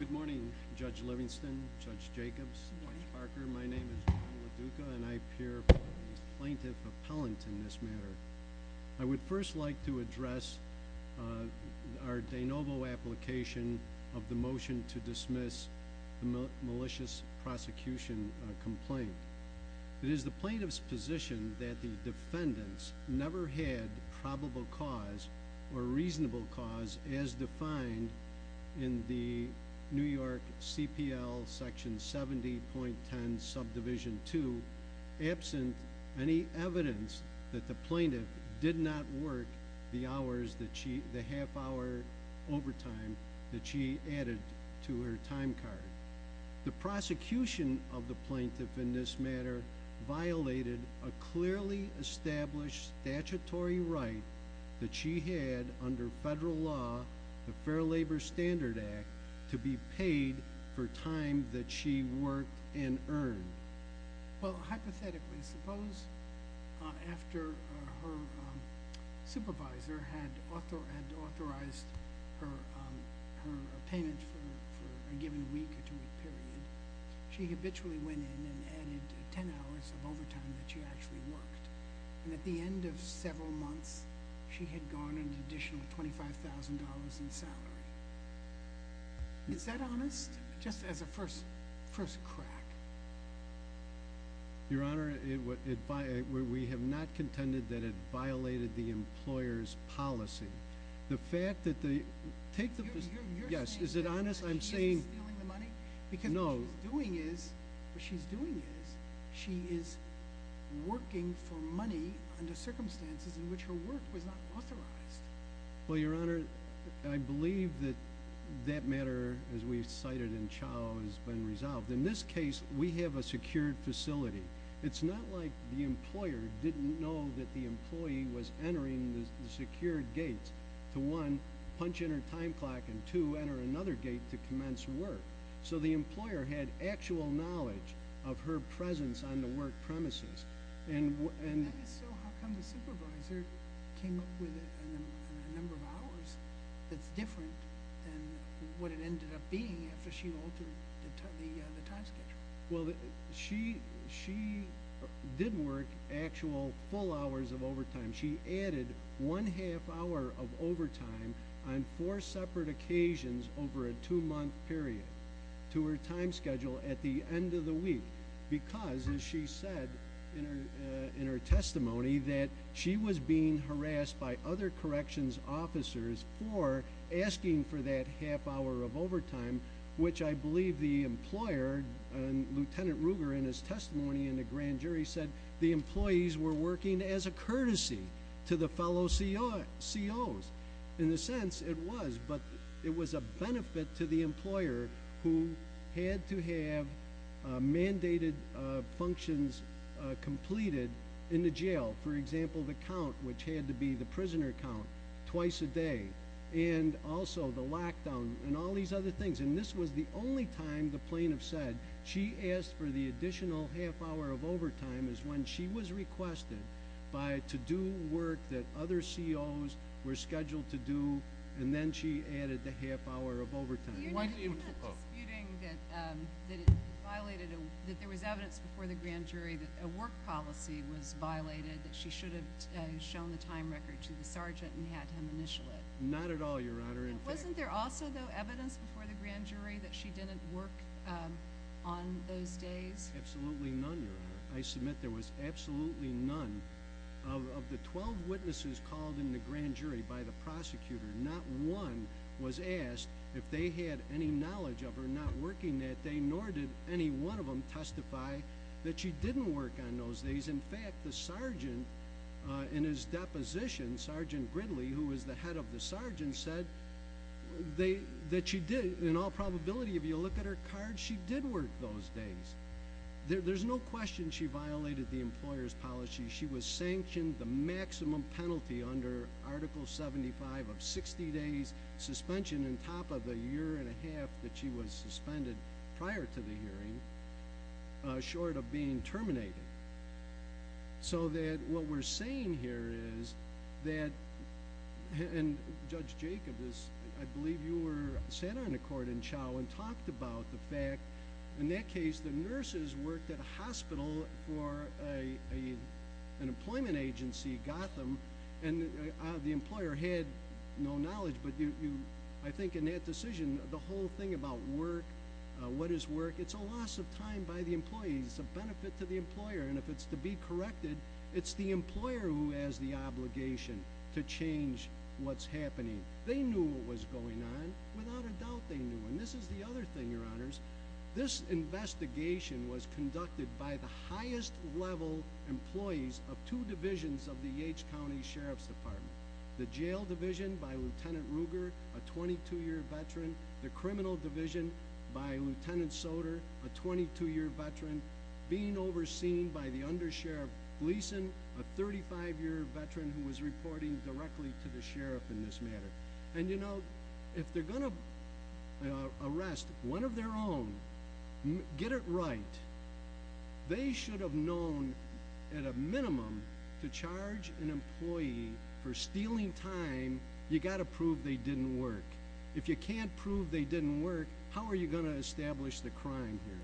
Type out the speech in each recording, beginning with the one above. Good morning, Judge Livingston, Judge Jacobs, Judge Parker, my name is John LaDuca and I appear to be a plaintiff appellant in this matter. I would first like to address our de novo application of the motion to dismiss the malicious prosecution complaint. It is the plaintiff's position that the defendants never had probable cause or reasonable cause as defined in the New York CPL section 70.10 subdivision 2 absent any evidence that the plaintiff did not work the half hour overtime that she added to her time card. The prosecution of the plaintiff in this matter violated a clearly established statutory right that she had under federal law, the Fair Labor Standard Act, to be paid for time that she worked and earned. Well, hypothetically, suppose after her supervisor had authorized her payment for a given week or two-week period, she habitually went in and added 10 hours of overtime that she actually worked. And at the end of several months, she had gone an additional $25,000 in salary. Is that honest? Just as a first crack. Your Honor, we have not contended that it violated the employer's policy. The fact that the...take the...yes, is it honest? I'm saying...stealing the money? No. Because what she's doing is, what she's doing is, she is working for money under circumstances in which her work was not authorized. Well, Your Honor, I believe that that matter, as we've cited in Chau, has been resolved. In this case, we have a secured facility. It's not like the employer didn't know that the employer had an actual knowledge of her presence on the work premises. And so how come the supervisor came up with a number of hours that's different than what it ended up being after she altered the time schedule? Well, she did work actual full hours of overtime. She added one half hour of overtime on four separate occasions over a two-month period to her time schedule at the end of the week because, as she said in her testimony, that she was being harassed by other corrections officers for asking for that half hour of overtime, which I believe the employer, Lieutenant Ruger, in his testimony in the grand jury said the employees were working as a courtesy to the fellow COs. In a sense, it was, but it was a benefit to the employer who had to have mandated functions completed in the jail. For example, the count, which had to be the prisoner count twice a day, and also the lockdown and all these other things. And this was the only time the plaintiff said she asked for the additional half hour of overtime is when she was requested to do work that other COs were scheduled to do, and then she added the half hour of overtime. You're not disputing that there was evidence before the grand jury that a work policy was violated, that she should have shown the time record to the sergeant and had him initial it? Not at all, Your Honor. Wasn't there also, though, evidence before the grand jury that she didn't work on those days? Absolutely none, Your Honor. I submit there was absolutely none. Of the 12 witnesses called in the grand jury by the prosecutor, not one was asked if they had any knowledge of her not working that day, nor did any one of them testify that she didn't work on those days. In fact, the sergeant in his deposition, Sergeant Gridley, who was the head of the sergeant, said that she did. In all probability, if you look at her card, she did work those days. There's no question she violated the employer's policy. She was sanctioned the maximum penalty under Article 75 of 60 days suspension, on top of the year and a half that she was suspended prior to the hearing, short of being terminated. So that what we're saying here is that, and Judge Jacob, I believe you were sat on a court in Chow and talked about the fact, in that case, the nurses worked at a hospital for an employment agency, Gotham, and the employer had no knowledge, but I think in that decision, the whole thing about work, what is work, it's a loss of time by the employees. It's a benefit to the employer. And if it's to be corrected, it's the employer who has the obligation to change what's happening. They knew what was going on. Without a doubt, they knew. And this is the other thing, Your Honors. This investigation was conducted by the highest level employees of two divisions of the Yates County Sheriff's Department. The jail division by Lieutenant Ruger, a 22-year veteran. The criminal division by Lieutenant Soter, a 22-year veteran. Being overseen by the undersheriff Gleason, a 35-year veteran who was reporting directly to the sheriff in this matter. And, you know, if they're going to arrest one of their own, get it right, they should have known, at a minimum, to charge an employee for stealing time, you've got to prove they didn't work. If you can't prove they didn't work, how are you going to establish the crime here?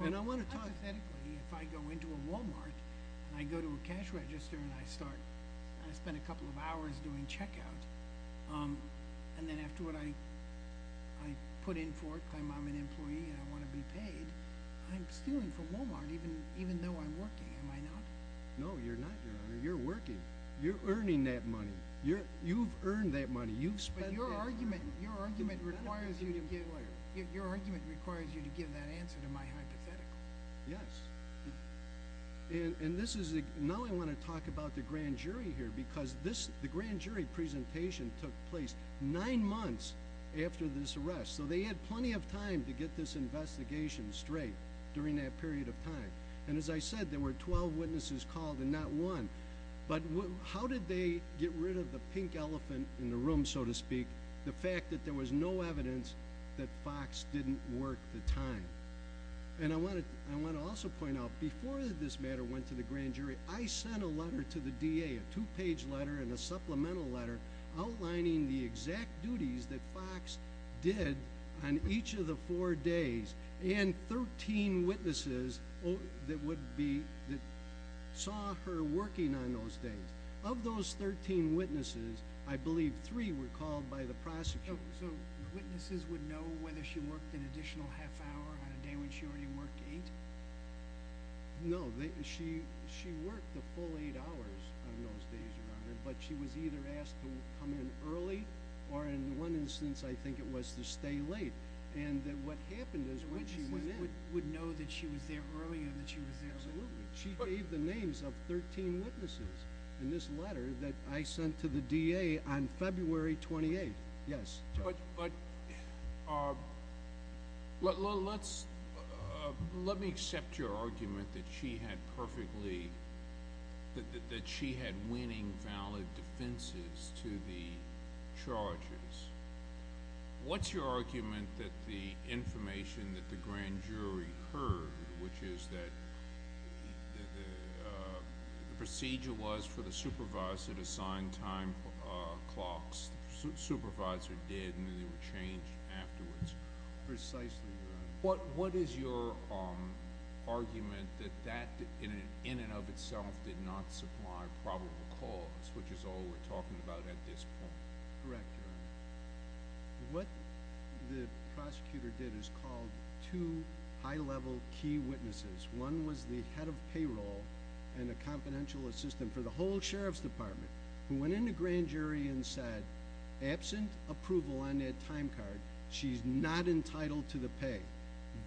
Well, hypothetically, if I go into a Walmart and I go to a cash register and I start, I spend a couple of hours doing checkout, and then after what I put in for it, claim I'm an employee and I want to be paid, I'm stealing from Walmart, even though I'm working, am I not? No, you're not, Your Honor. You're working. You're earning that money. You've earned that money. You've spent it. Your argument requires you to give that answer to my hypothetical. Yes. Now I want to talk about the grand jury here, because the grand jury presentation took place nine months after this arrest, so they had plenty of time to get this investigation straight during that period of time. And as I said, there were 12 witnesses called and not one, but how did they get rid of the pink elephant in the room, so to speak, the fact that there was no evidence that Fox didn't work the time? And I want to also point out, before this matter went to the grand jury, I sent a letter to the DA, a two-page letter and a supplemental letter, outlining the exact duties that Fox did on each of the four days, and 13 witnesses that saw her working on those days. Of those 13 witnesses, I believe three were called by the prosecutor. So witnesses would know whether she worked an additional half hour on a day when she already worked eight? No, she worked the full eight hours on those days, Your Honor, but she was either asked to come in early, or in one instance I think it was to stay late, and what happened is when she went in- Witnesses would know that she was there earlier, that she was there earlier. Absolutely. She gave the names of 13 witnesses in this letter that I sent to the DA on February 28th. Yes, Judge. But let me accept your argument that she had winning valid defenses to the charges. What's your argument that the information that the grand jury heard, which is that the procedure was for the supervisor to sign time clocks, the supervisor did, and then they were changed afterwards. Precisely, Your Honor. What is your argument that that, in and of itself, did not supply probable cause, which is all we're talking about at this point? Correct, Your Honor. What the prosecutor did is called two high-level key witnesses. One was the head of payroll and a confidential assistant for the whole sheriff's department, who went into grand jury and said, absent approval on that time card, she's not entitled to the pay.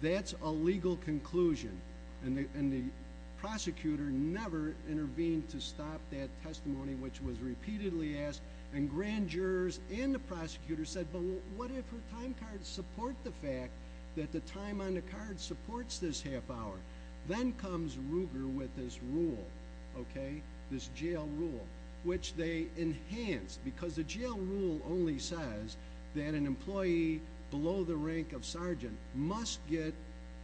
That's a legal conclusion, and the prosecutor never intervened to stop that testimony, which was repeatedly asked. And grand jurors and the prosecutor said, but what if her time cards support the fact that the time on the card supports this half hour? Then comes Ruger with this rule, okay, this jail rule, which they enhanced. Because the jail rule only says that an employee below the rank of sergeant must get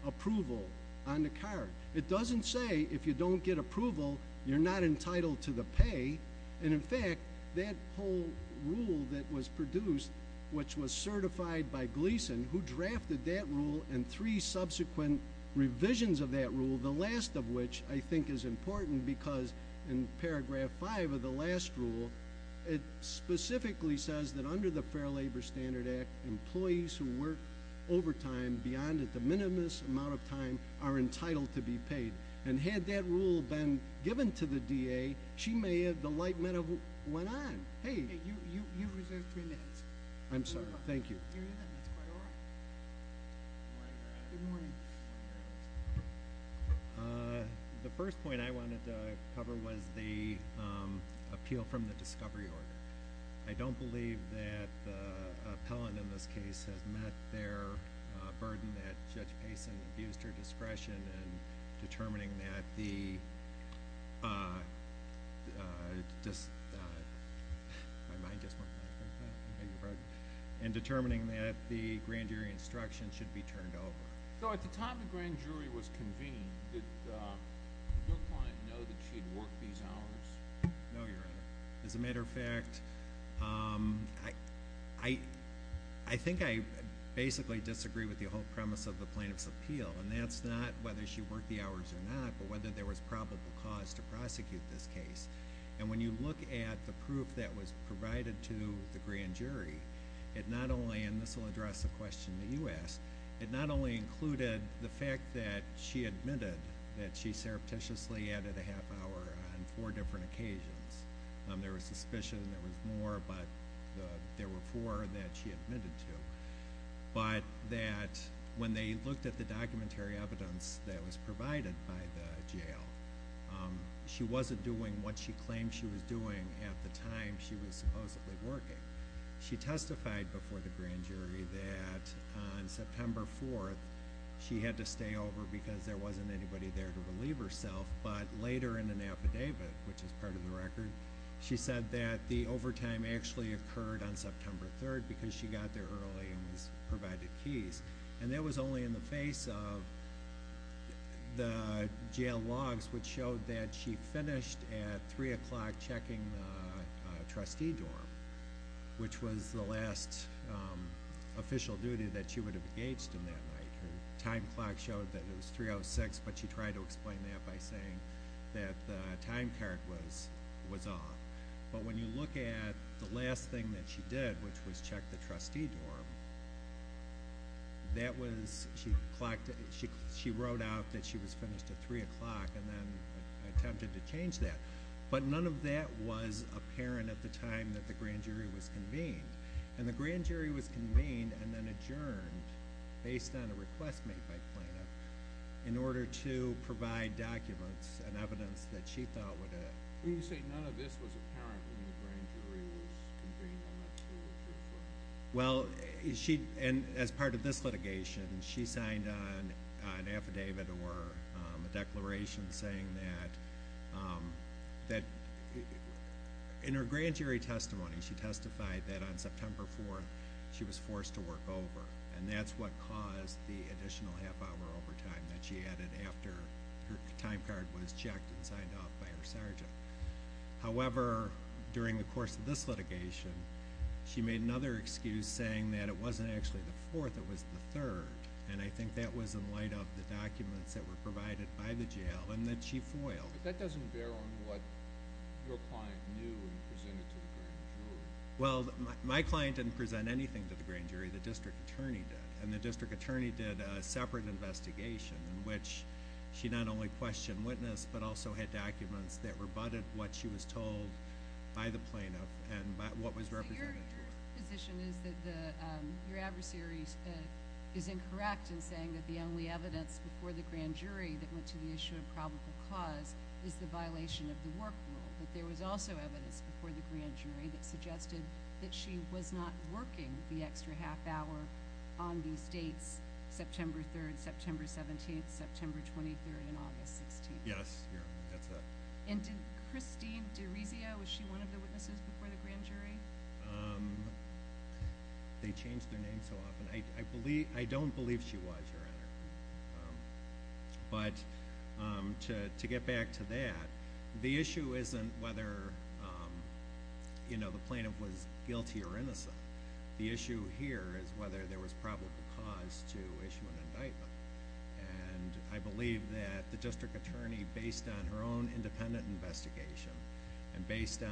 approval on the card. It doesn't say, if you don't get approval, you're not entitled to the pay. And in fact, that whole rule that was produced, which was certified by Gleason, who drafted that rule and three subsequent revisions of that rule, the last of which I think is important because in paragraph five of the last rule, it specifically says that under the Fair Labor Standard Act, employees who work overtime beyond at the minimum amount of time are entitled to be paid. And had that rule been given to the DA, she may have, the light metal went on. Hey. You've reserved three minutes. I'm sorry. Thank you. You're good. That's quite all right. Good morning. The first point I wanted to cover was the appeal from the discovery order. I don't believe that the appellant in this case has met their burden that Judge Payson abused her discretion in determining that the grand jury instruction should be turned over. So at the time the grand jury was convened, did your client know that she had worked these hours? No, Your Honor. As a matter of fact, I think I basically disagree with the whole premise of the plaintiff's appeal, and that's not whether she worked the hours or not, but whether there was probable cause to prosecute this case. And when you look at the proof that was provided to the grand jury, it not only, and this will address the question that you asked, it not only included the fact that she admitted that she surreptitiously added a half hour on four different occasions. There was suspicion, there was more, but there were four that she admitted to. But that when they looked at the documentary evidence that was provided by the jail, she wasn't doing what she claimed she was doing at the time she was supposedly working. She testified before the grand jury that on September 4th she had to stay over because there wasn't anybody there to relieve herself, but later in an affidavit, which is part of the record, she said that the overtime actually occurred on September 3rd because she got there early and was provided keys. And that was only in the face of the jail logs, which showed that she finished at 3 o'clock checking the trustee dorm, which was the last official duty that she would have engaged in that night. Her time clock showed that it was 3 out of 6, but she tried to explain that by saying that the time card was off. But when you look at the last thing that she did, which was check the trustee dorm, she wrote out that she was finished at 3 o'clock and then attempted to change that. But none of that was apparent at the time that the grand jury was convened. And the grand jury was convened and then adjourned based on a request made by Plano in order to provide documents and evidence that she thought would have. You say none of this was apparent when the grand jury was convened on that day? Well, as part of this litigation, she signed an affidavit or a declaration saying that in her grand jury testimony she testified that on September 4th she was forced to work over. And that's what caused the additional half hour overtime that she added after her time card was checked and signed off by her sergeant. However, during the course of this litigation, she made another excuse saying that it wasn't actually the 4th, it was the 3rd. And I think that was in light of the documents that were provided by the jail and that she foiled. But that doesn't bear on what your client knew and presented to the grand jury. Well, my client didn't present anything to the grand jury, the district attorney did. And the district attorney did a separate investigation in which she not only questioned witness but also had documents that rebutted what she was told by the plaintiff and what was represented to her. So your position is that your adversary is incorrect in saying that the only evidence before the grand jury that went to the issue of probable cause is the violation of the work rule. But there was also evidence before the grand jury that suggested that she was not working the extra half hour on these dates, September 3rd, September 17th, September 23rd, and August 16th. Yes, that's it. And did Christine DiRisio, was she one of the witnesses before the grand jury? They change their name so often. I don't believe she was, Your Honor. But to get back to that, the issue isn't whether the plaintiff was guilty or innocent. The issue here is whether there was probable cause to issue an indictment. And I believe that the district attorney, based on her own independent investigation and based on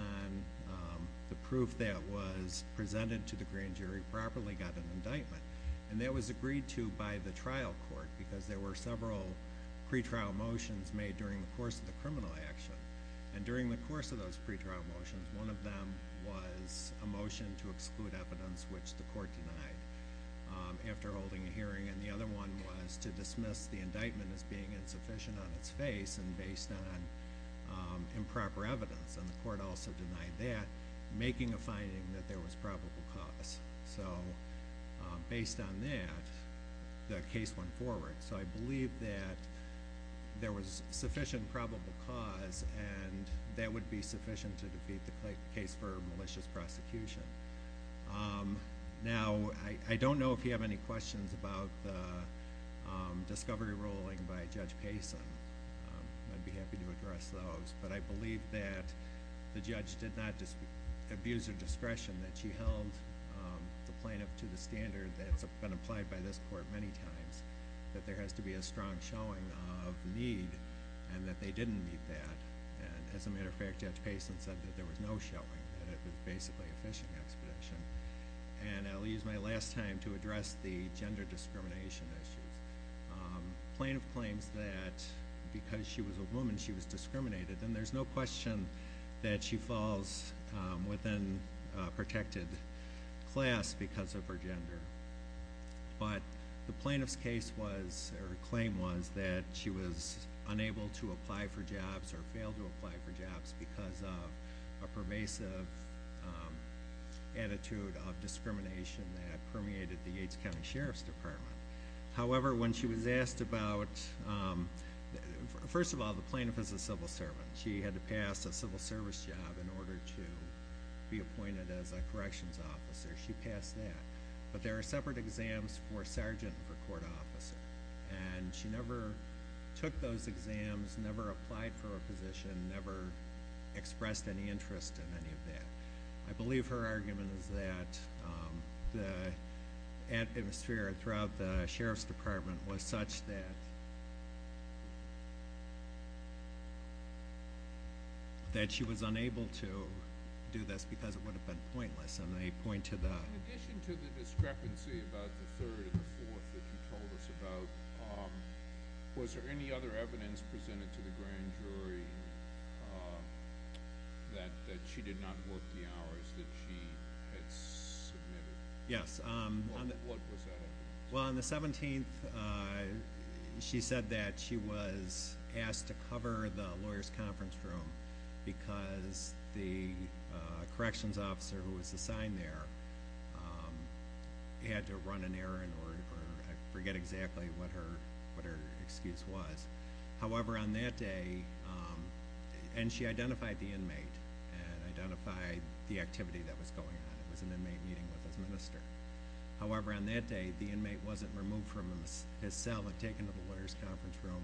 the proof that was presented to the grand jury, properly got an indictment. And that was agreed to by the trial court because there were several pretrial motions made during the course of the criminal action. And during the course of those pretrial motions, one of them was a motion to exclude evidence which the court denied after holding a hearing, and the other one was to dismiss the indictment as being insufficient on its face and based on improper evidence. And the court also denied that, making a finding that there was probable cause. So based on that, the case went forward. So I believe that there was sufficient probable cause, and that would be sufficient to defeat the case for malicious prosecution. Now, I don't know if you have any questions about the discovery ruling by Judge Payson. I'd be happy to address those. But I believe that the judge did not abuse her discretion, that she held the plaintiff to the standard that's been applied by this court many times, that there has to be a strong showing of need and that they didn't need that. As a matter of fact, Judge Payson said that there was no showing, that it was basically a fishing expedition. And I'll use my last time to address the gender discrimination issues. The plaintiff claims that because she was a woman, she was discriminated, and there's no question that she falls within a protected class because of her gender. But the plaintiff's claim was that she was unable to apply for jobs or fail to apply for jobs because of a pervasive attitude of discrimination that permeated the Yates County Sheriff's Department. However, when she was asked about, first of all, the plaintiff is a civil servant. She had to pass a civil service job in order to be appointed as a corrections officer. She passed that. But there are separate exams for sergeant and for court officer, and she never took those exams, never applied for a position, never expressed any interest in any of that. I believe her argument is that the atmosphere throughout the Sheriff's Department was such that she was unable to do this because it would have been pointless, and I point to that. In addition to the discrepancy about the third and the fourth that you told us about, was there any other evidence presented to the grand jury that she did not work the hours that she had submitted? Yes. What was that evidence? Well, on the 17th, she said that she was asked to cover the lawyers' conference room because the corrections officer who was assigned there had to run an errand or I forget exactly what her excuse was. However, on that day, and she identified the inmate and identified the activity that was going on. It was an inmate meeting with his minister. However, on that day, the inmate wasn't removed from his cell and taken to the lawyers' conference room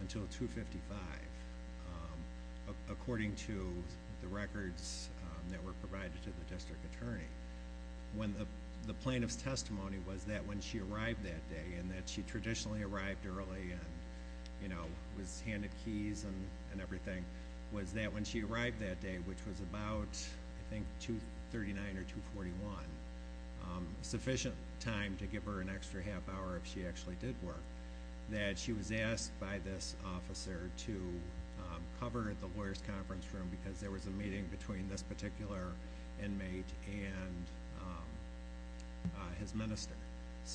until 2.55, according to the records that were provided to the district attorney. The plaintiff's testimony was that when she arrived that day and that she traditionally arrived early and was handed keys and everything, was that when she arrived that day, which was about 2.39 or 2.41, sufficient time to give her an extra half hour if she actually did work, that she was asked by this officer to cover the lawyers' conference room because there was a meeting between this particular inmate and his minister.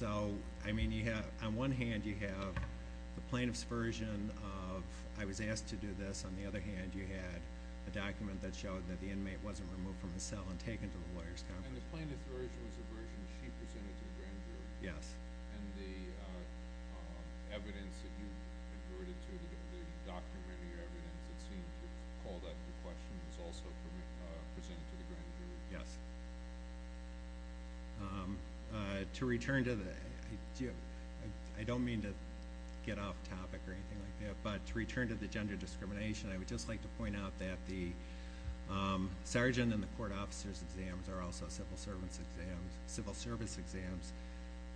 On one hand, you have the plaintiff's version of, I was asked to do this. On the other hand, you had a document that showed that the inmate wasn't removed from his cell and taken to the lawyers' conference room. And the plaintiff's version was the version she presented to the grand jury? Yes. And the evidence that you averted to the document, the evidence that seemed to have called that into question, was also presented to the grand jury? Yes. To return to that, I don't mean to get off topic or anything like that, but to return to the gender discrimination, I would just like to point out that the sergeant and the court officer's exams are also civil service exams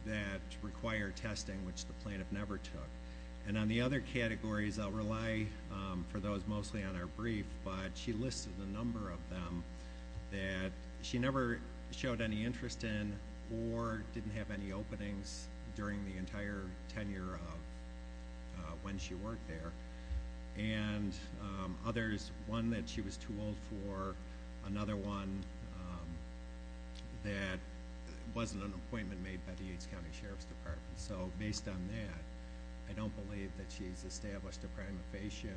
that require testing, which the plaintiff never took. And on the other categories, I'll rely for those mostly on our brief, but she listed a number of them that she never showed any interest in or didn't have any openings during the entire tenure of when she worked there. And others, one that she was too old for, another one that wasn't an appointment made by the Yates County Sheriff's Department. So based on that, I don't believe that she's established a prima facie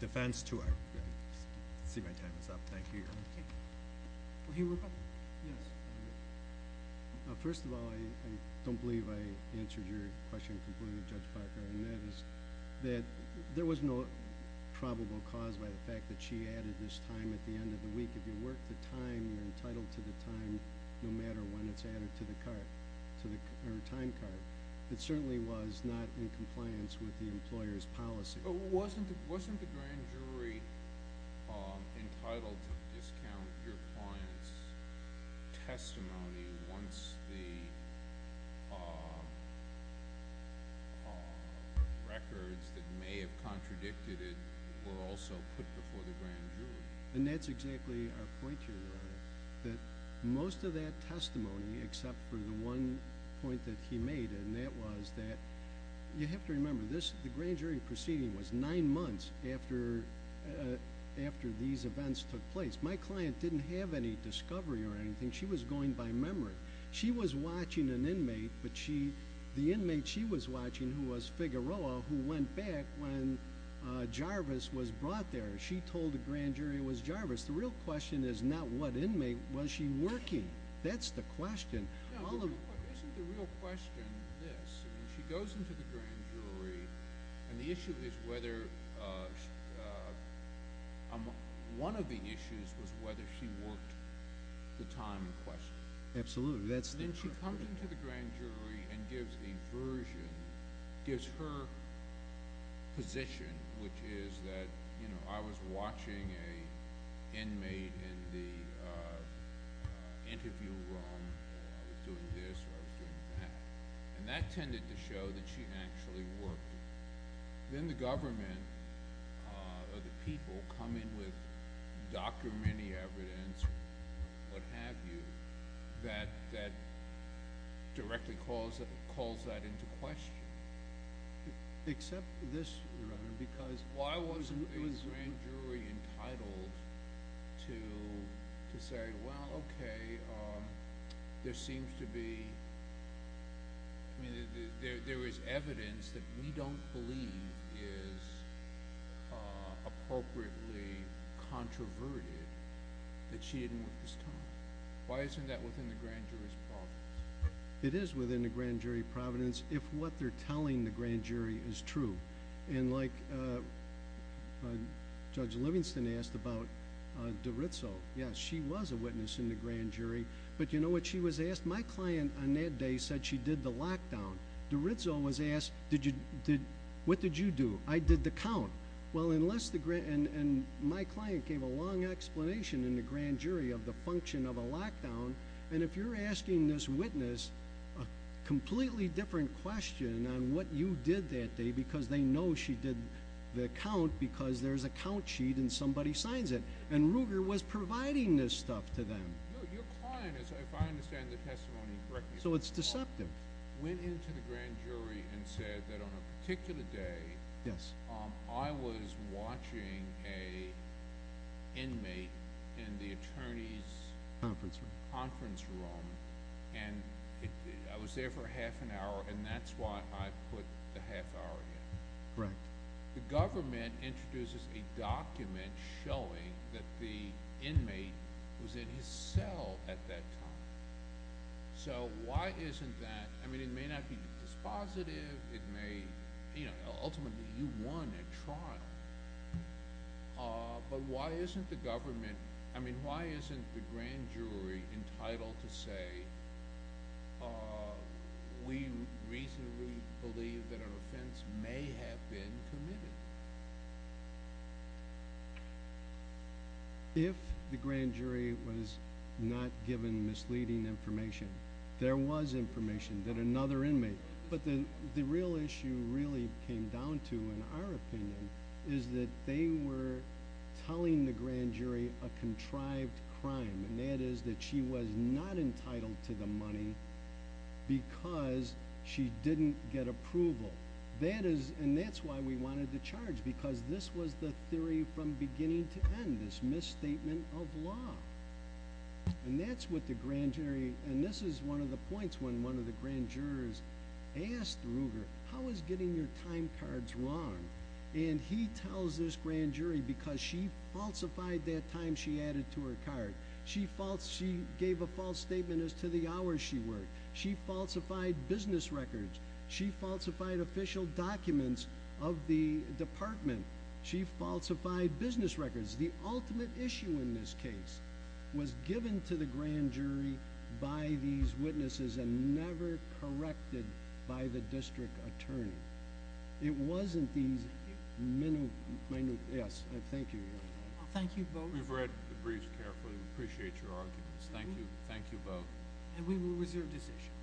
defense to her. I see my time is up. Thank you, Your Honor. Okay. Will he rebut? Yes. First of all, I don't believe I answered your question completely, Judge Parker, and that is that there was no probable cause by the fact that she added this time at the end of the week. If you work the time, you're entitled to the time no matter when it's added to the time card. It certainly was not in compliance with the employer's policy. Wasn't the grand jury entitled to discount your client's testimony once the records that may have contradicted it were also put before the grand jury? And that's exactly our point here, Your Honor, that most of that testimony except for the one point that he made, and that was that you have to remember the grand jury proceeding was nine months after these events took place. My client didn't have any discovery or anything. She was going by memory. She was watching an inmate, but the inmate she was watching, who was Figueroa, who went back when Jarvis was brought there, she told the grand jury it was Jarvis. The real question is not what inmate. Was she working? That's the question. Isn't the real question this? She goes into the grand jury, and one of the issues was whether she worked the time in question. Absolutely. Then she comes into the grand jury and gives the version, gives her position, which is that, you know, I was watching an inmate in the interview room, and I was doing this or I was doing that, and that tended to show that she actually worked. Then the government or the people come in with documented evidence, what have you, that directly calls that into question. Except this, Your Honor, because— Why wasn't the grand jury entitled to say, well, okay, there seems to be— there is evidence that we don't believe is appropriately controverted that she didn't work this time. Why isn't that within the grand jury's providence? It is within the grand jury providence. If what they're telling the grand jury is true. And like Judge Livingston asked about DiRizzo, yes, she was a witness in the grand jury, but you know what she was asked? My client on that day said she did the lockdown. DiRizzo was asked, what did you do? I did the count. Well, unless the—and my client gave a long explanation in the grand jury of the function of a lockdown, and if you're asking this witness a completely different question on what you did that day because they know she did the count because there's a count sheet and somebody signs it, and Ruger was providing this stuff to them. No, your client, if I understand the testimony correctly— So it's deceptive. —went into the grand jury and said that on a particular day— Yes. I was watching an inmate in the attorney's conference room, and I was there for half an hour, and that's why I put the half hour in. Right. The government introduces a document showing that the inmate was in his cell at that time. So why isn't that—I mean, it may not be dispositive. It may—ultimately, you won at trial. But why isn't the government—I mean, why isn't the grand jury entitled to say, we reasonably believe that an offense may have been committed? If the grand jury was not given misleading information, there was information that another inmate— But the real issue really came down to, in our opinion, is that they were telling the grand jury a contrived crime, and that is that she was not entitled to the money because she didn't get approval. And that's why we wanted to charge, because this was the theory from beginning to end, this misstatement of law. And that's what the grand jury— I asked Ruger, how is getting your time cards wrong? And he tells this grand jury because she falsified that time she added to her card. She false—she gave a false statement as to the hours she worked. She falsified business records. She falsified official documents of the department. She falsified business records. The ultimate issue in this case was given to the grand jury by these witnesses and never corrected by the district attorney. It wasn't these— Yes, thank you. Thank you both. We've read the briefs carefully. We appreciate your arguments. Thank you. Thank you both. And we will reserve decision.